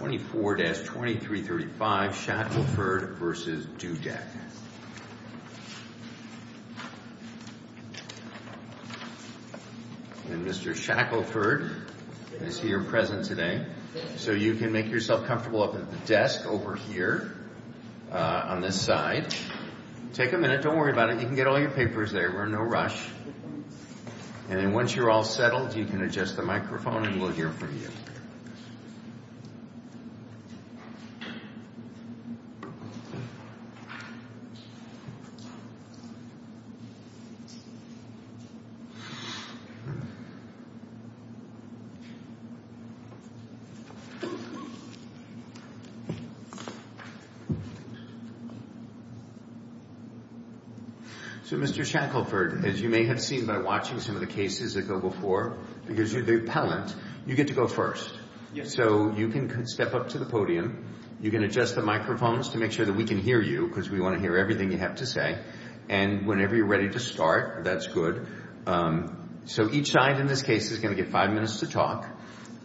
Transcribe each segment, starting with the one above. And Mr. Shackleford is here present today. So you can make yourself comfortable up at the desk over here on this side. Take a minute. Don't worry about it. You can get all your papers there. We're in no rush. And then once you're all settled, you can adjust the microphone and we'll hear from you. So Mr. Shackleford, as you may have seen by watching some of the cases that go before, because you're the appellant, you get to go first. So you can step up to the podium. You can adjust the microphones to make sure that we can hear you because we want to hear everything you have to say. And whenever you're ready to start, that's good. So each side in this case is going to get five minutes to talk.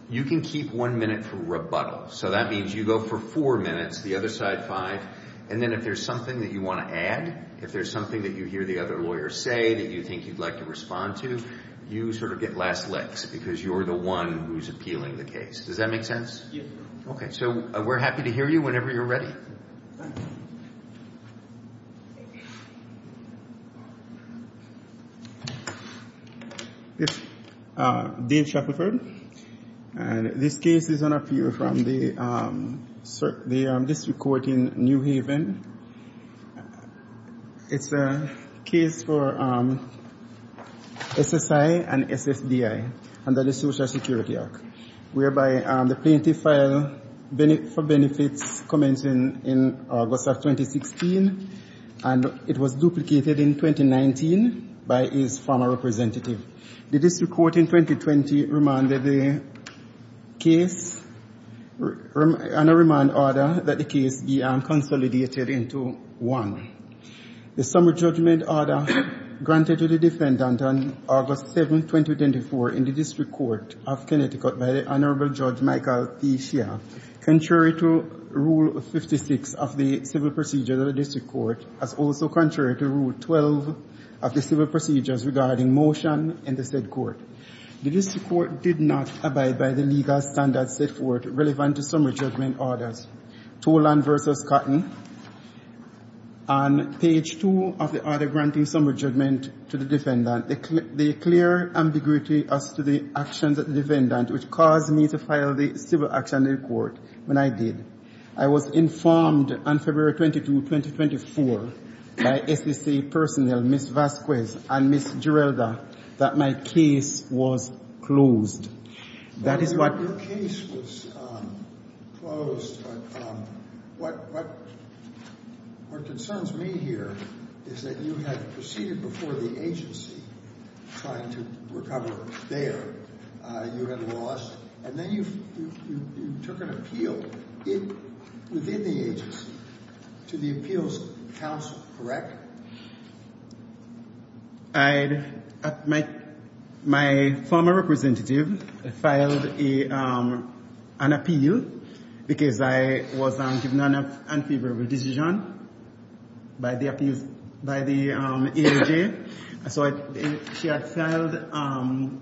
You can keep one minute for rebuttal. So that means you go for four minutes, the other side five. And then if there's something that you want to add, if there's something that you hear the other lawyer say that you think you'd like to respond to, you sort of get last licks because you're the one who's appealing the case. Does that make sense? Yes. Okay. So we're happy to hear you whenever you're ready. This is Dave Shackleford. And this case is an appeal from the district court in New Haven. It's a case for SSI and SSDI under the Social Security Act, whereby the plaintiff filed for benefits commencing in August of 2016, and it was duplicated in 2019 by his former representative. The district court in 2020 remanded the case and a remand order that the case be consolidated into one. The summary judgment order granted to the defendant on August 7, 2024, in the district court of Connecticut by the Honorable Judge Michael T. Shea, contrary to Rule 56 of the Civil Procedures of the district court, as also contrary to Rule 12 of the Civil Procedures regarding motion in the state court. The district court did not abide by the legal standards set forth relevant to summary judgment orders. Toland v. Cotton, on page 2 of the order granting summary judgment to the defendant, they clear ambiguity as to the actions of the defendant, which caused me to file the civil action in court when I did. I was informed on February 22, 2024, by SSA personnel, Ms. Vasquez and Ms. Girelda, that my case was closed. That is what— Your case was closed, but what concerns me here is that you had proceeded before the case was closed, and then you took an appeal within the agency to the appeals counsel, My former representative filed an appeal because I was given an unfavorable decision by the agency. So she had filed an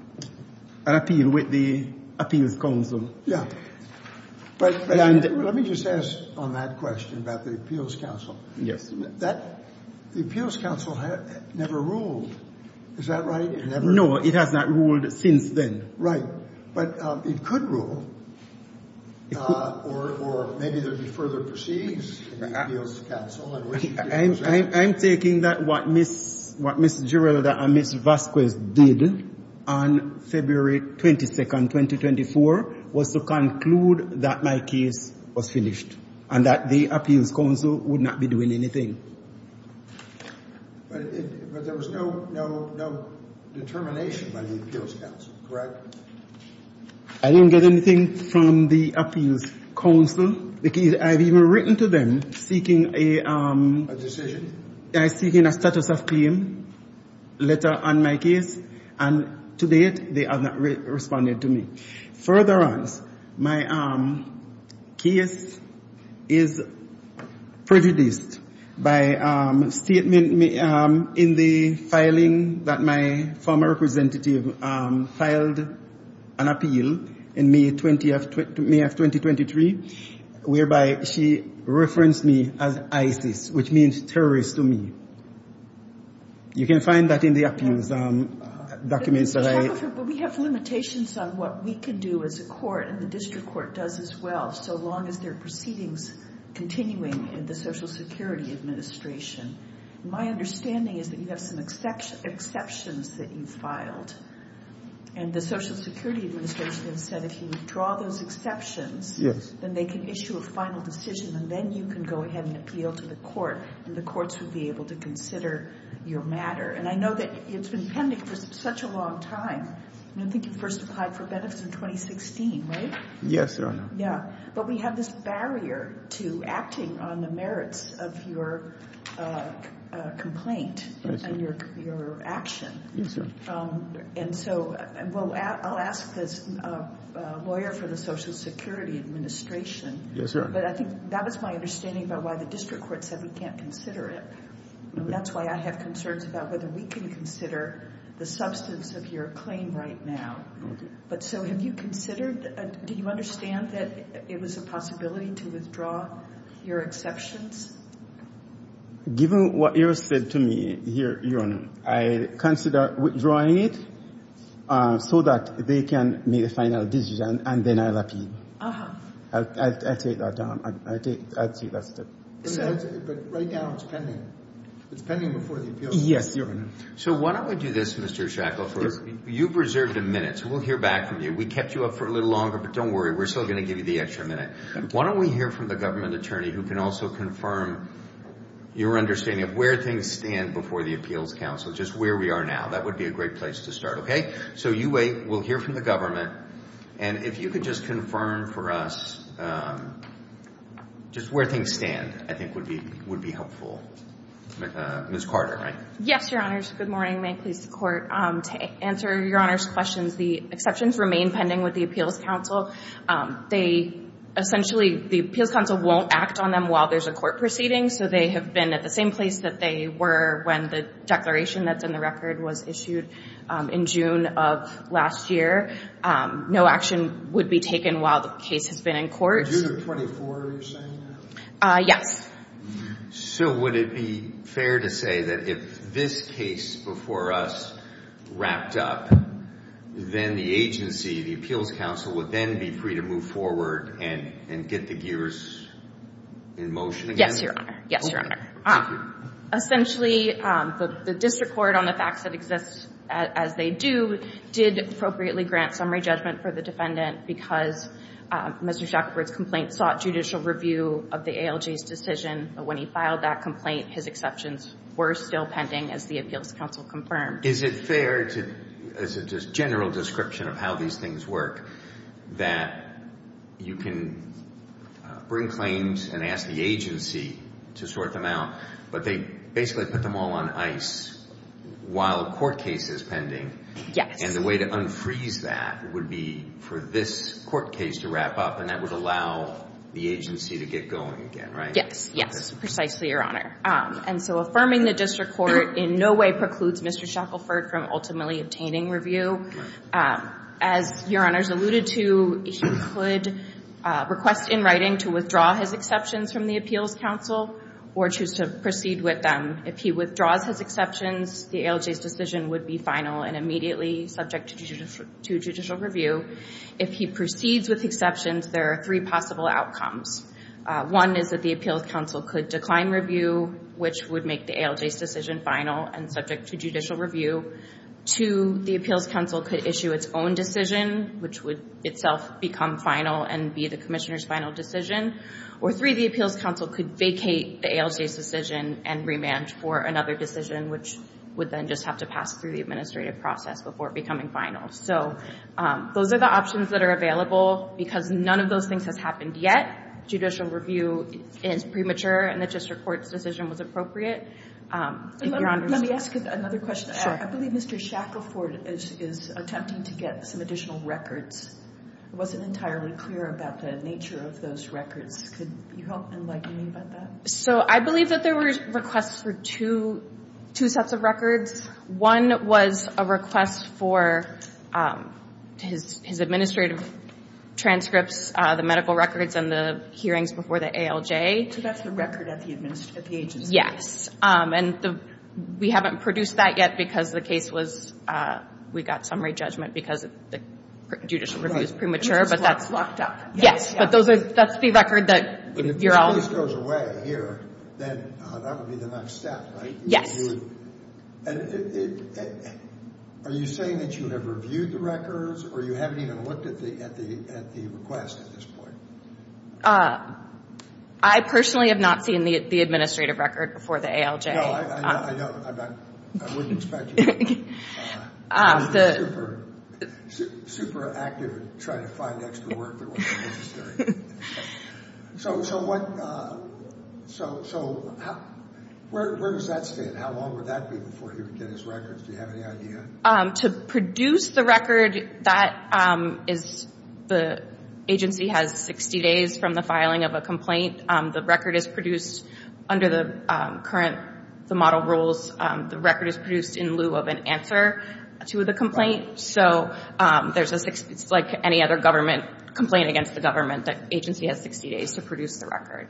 appeal with the appeals counsel. Yeah. Let me just ask on that question about the appeals counsel. Yes. The appeals counsel never ruled. Is that right? It never— No, it has not ruled since then. Right. But it could rule, or maybe there'd be further proceedings in the appeals counsel. I'm taking that what Ms. Girelda and Ms. Vasquez did on February 22, 2024, was to conclude that my case was finished, and that the appeals counsel would not be doing anything. But there was no determination by the appeals counsel, correct? I didn't get anything from the appeals counsel. I've even written to them seeking a— A decision? Seeking a status of claim letter on my case, and to date, they have not responded to me. Further on, my case is prejudiced by a statement in the filing that my former representative filed an appeal in May of 2023, whereby she referenced me as ISIS, which means terrorist to me. You can find that in the appeals documents that I— But we have limitations on what we can do as a court, and the district court does as well, so long as there are proceedings continuing in the Social Security Administration. My understanding is that you have some exceptions that you filed, and the Social Security Administration has said if you withdraw those exceptions— —then they can issue a final decision, and then you can go ahead and appeal to the court, and the courts would be able to consider your matter. And I know that it's been pending for such a long time. I think you first applied for benefits in 2016, right? Yes, Your Honor. Yeah. But we have this barrier to acting on the merits of your complaint and your action. Yes, Your Honor. And so I'll ask this lawyer for the Social Security Administration. Yes, Your Honor. But I think that was my understanding about why the district court said we can't consider it. That's why I have concerns about whether we can consider the substance of your claim right now. Okay. But so have you considered—do you understand that it was a possibility to withdraw your exceptions? Given what you said to me here, Your Honor, I consider withdrawing it so that they can make a final decision, and then I'll appeal. Uh-huh. I'll take that step. But right now it's pending. It's pending before the appeals council. Yes, Your Honor. So why don't we do this, Mr. Shackle? You've reserved a minute, so we'll hear back from you. We kept you up for a little longer, but don't worry. We're still going to give you the extra minute. Why don't we hear from the government attorney who can also confirm your understanding of where things stand before the appeals council, just where we are now. That would be a great place to start, okay? So you wait. We'll hear from the government. And if you could just confirm for us just where things stand, I think would be helpful. Ms. Carter, right? Yes, Your Honors. Good morning. May it please the Court. To answer Your Honor's questions, the exceptions remain pending with the appeals council. They essentially—the appeals council won't act on them while there's a court proceeding, so they have been at the same place that they were when the declaration that's in the record was issued in June of last year. No action would be taken while the case has been in court. June of 24, you're saying? Yes. So would it be fair to say that if this case before us wrapped up, then the agency, the appeals council, would then be free to move forward and get the gears in motion again? Yes, Your Honor. Yes, Your Honor. Thank you. Essentially, the district court, on the facts that exist as they do, did appropriately grant summary judgment for the defendant because Mr. Shackelford's complaint sought judicial review of the ALJ's decision. But when he filed that complaint, his exceptions were still pending, as the appeals council confirmed. Is it fair to—as a general description of how these things work, that you can bring claims and ask the agency to sort them out, but they basically put them all on ice while a court case is pending? Yes. And the way to unfreeze that would be for this court case to wrap up, and that would allow the agency to get going again, right? Yes. Yes, precisely, Your Honor. And so affirming the district court in no way precludes Mr. Shackelford from ultimately obtaining review. As Your Honor's alluded to, he could request in writing to withdraw his exceptions from the appeals council or choose to proceed with them. If he withdraws his exceptions, the ALJ's decision would be final and immediately subject to judicial review. If he proceeds with exceptions, there are three possible outcomes. One is that the appeals council could decline review, which would make the ALJ's decision final and subject to judicial review. Two, the appeals council could issue its own decision, which would itself become final and be the commissioner's final decision. Or three, the appeals council could vacate the ALJ's decision and remand for another decision, which would then just have to pass through the administrative process before it becoming final. So those are the options that are available because none of those things has happened yet. Judicial review is premature, and the district court's decision was appropriate. Let me ask another question. I believe Mr. Shackelford is attempting to get some additional records. It wasn't entirely clear about the nature of those records. Could you help enlighten me about that? So I believe that there were requests for two sets of records. One was a request for his administrative transcripts, the medical records, and the hearings before the ALJ. So that's the record at the agency? Yes. And we haven't produced that yet because the case was we got summary judgment because the judicial review is premature. But that's locked up. Yes. But that's the record that you're all. If this goes away here, then that would be the next step, right? Yes. Are you saying that you have reviewed the records, or you haven't even looked at the request at this point? I personally have not seen the administrative record before the ALJ. No, I know. I wouldn't expect you to. Super active in trying to find extra work that wasn't necessary. So where does that stand? How long would that be before he would get his records? Do you have any idea? To produce the record, the agency has 60 days from the filing of a complaint. The record is produced under the current model rules. The record is produced in lieu of an answer to the complaint. So it's like any other complaint against the government. The agency has 60 days to produce the record.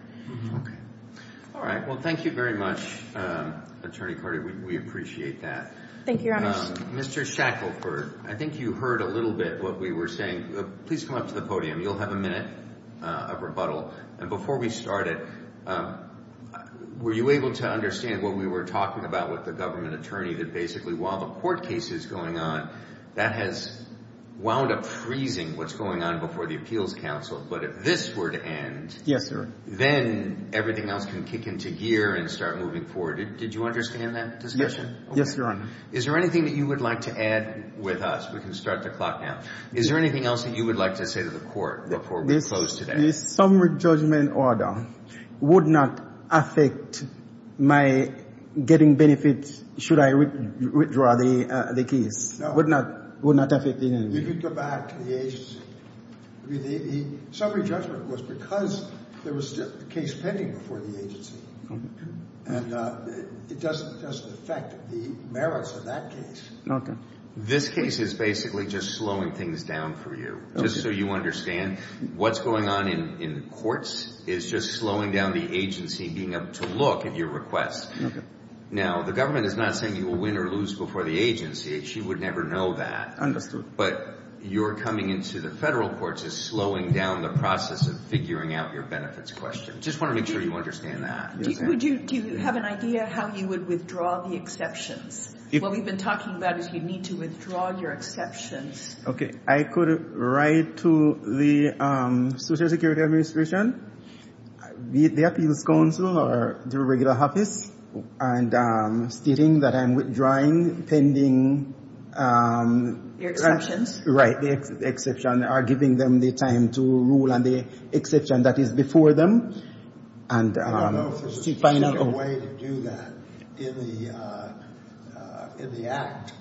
All right. Well, thank you very much, Attorney Cordray. We appreciate that. Thank you, Your Honor. Mr. Shackelford, I think you heard a little bit of what we were saying. Please come up to the podium. You'll have a minute of rebuttal. And before we start it, were you able to understand what we were talking about with the government attorney, that basically while the court case is going on, that has wound up freezing what's going on before the appeals council? But if this were to end, then everything else can kick into gear and start moving forward. Did you understand that discussion? Yes, Your Honor. Is there anything that you would like to add with us? We can start the clock now. Is there anything else that you would like to say to the court before we close today? The summary judgment order would not affect my getting benefits should I withdraw the case. No. Would not affect anything. You need to go back to the agency. The summary judgment was because there was a case pending before the agency. And it doesn't affect the merits of that case. Okay. This case is basically just slowing things down for you, just so you understand. What's going on in courts is just slowing down the agency being able to look at your requests. Okay. Now, the government is not saying you will win or lose before the agency. She would never know that. Understood. But your coming into the federal courts is slowing down the process of figuring out your benefits question. Just want to make sure you understand that. Do you have an idea how you would withdraw the exceptions? What we've been talking about is you need to withdraw your exceptions. Okay. I could write to the Social Security Administration, the appeals council, or the regular office, stating that I'm withdrawing pending. Your exceptions. Right. The exceptions are giving them the time to rule on the exception that is before them. I don't know if there's a secure way to do that in the act.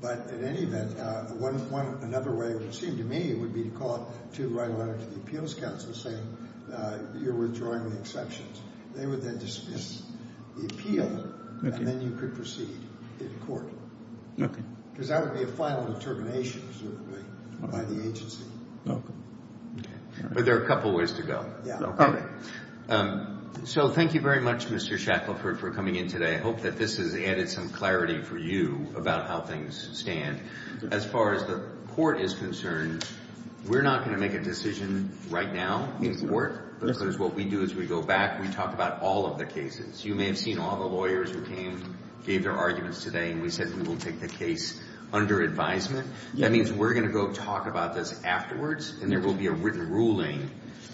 But in any event, another way, it would seem to me, would be to call, to write a letter to the appeals council, saying you're withdrawing the exceptions. They would then dismiss the appeal, and then you could proceed in court. Okay. Because that would be a final determination, presumably, by the agency. Okay. But there are a couple ways to go. Yeah. Okay. So thank you very much, Mr. Shackelford, for coming in today. I hope that this has added some clarity for you about how things stand. As far as the court is concerned, we're not going to make a decision right now in court. Because what we do is we go back, we talk about all of the cases. You may have seen all the lawyers who came, gave their arguments today, and we said we will take the case under advisement. That means we're going to go talk about this afterwards, and there will be a written ruling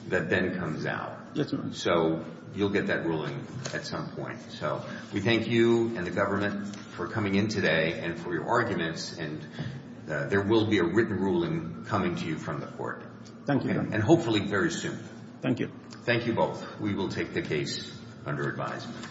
that then comes out. Yes, sir. So you'll get that ruling at some point. So we thank you and the government for coming in today and for your arguments, and there will be a written ruling coming to you from the court. Thank you. And hopefully very soon. Thank you. Thank you both. We will take the case under advisement.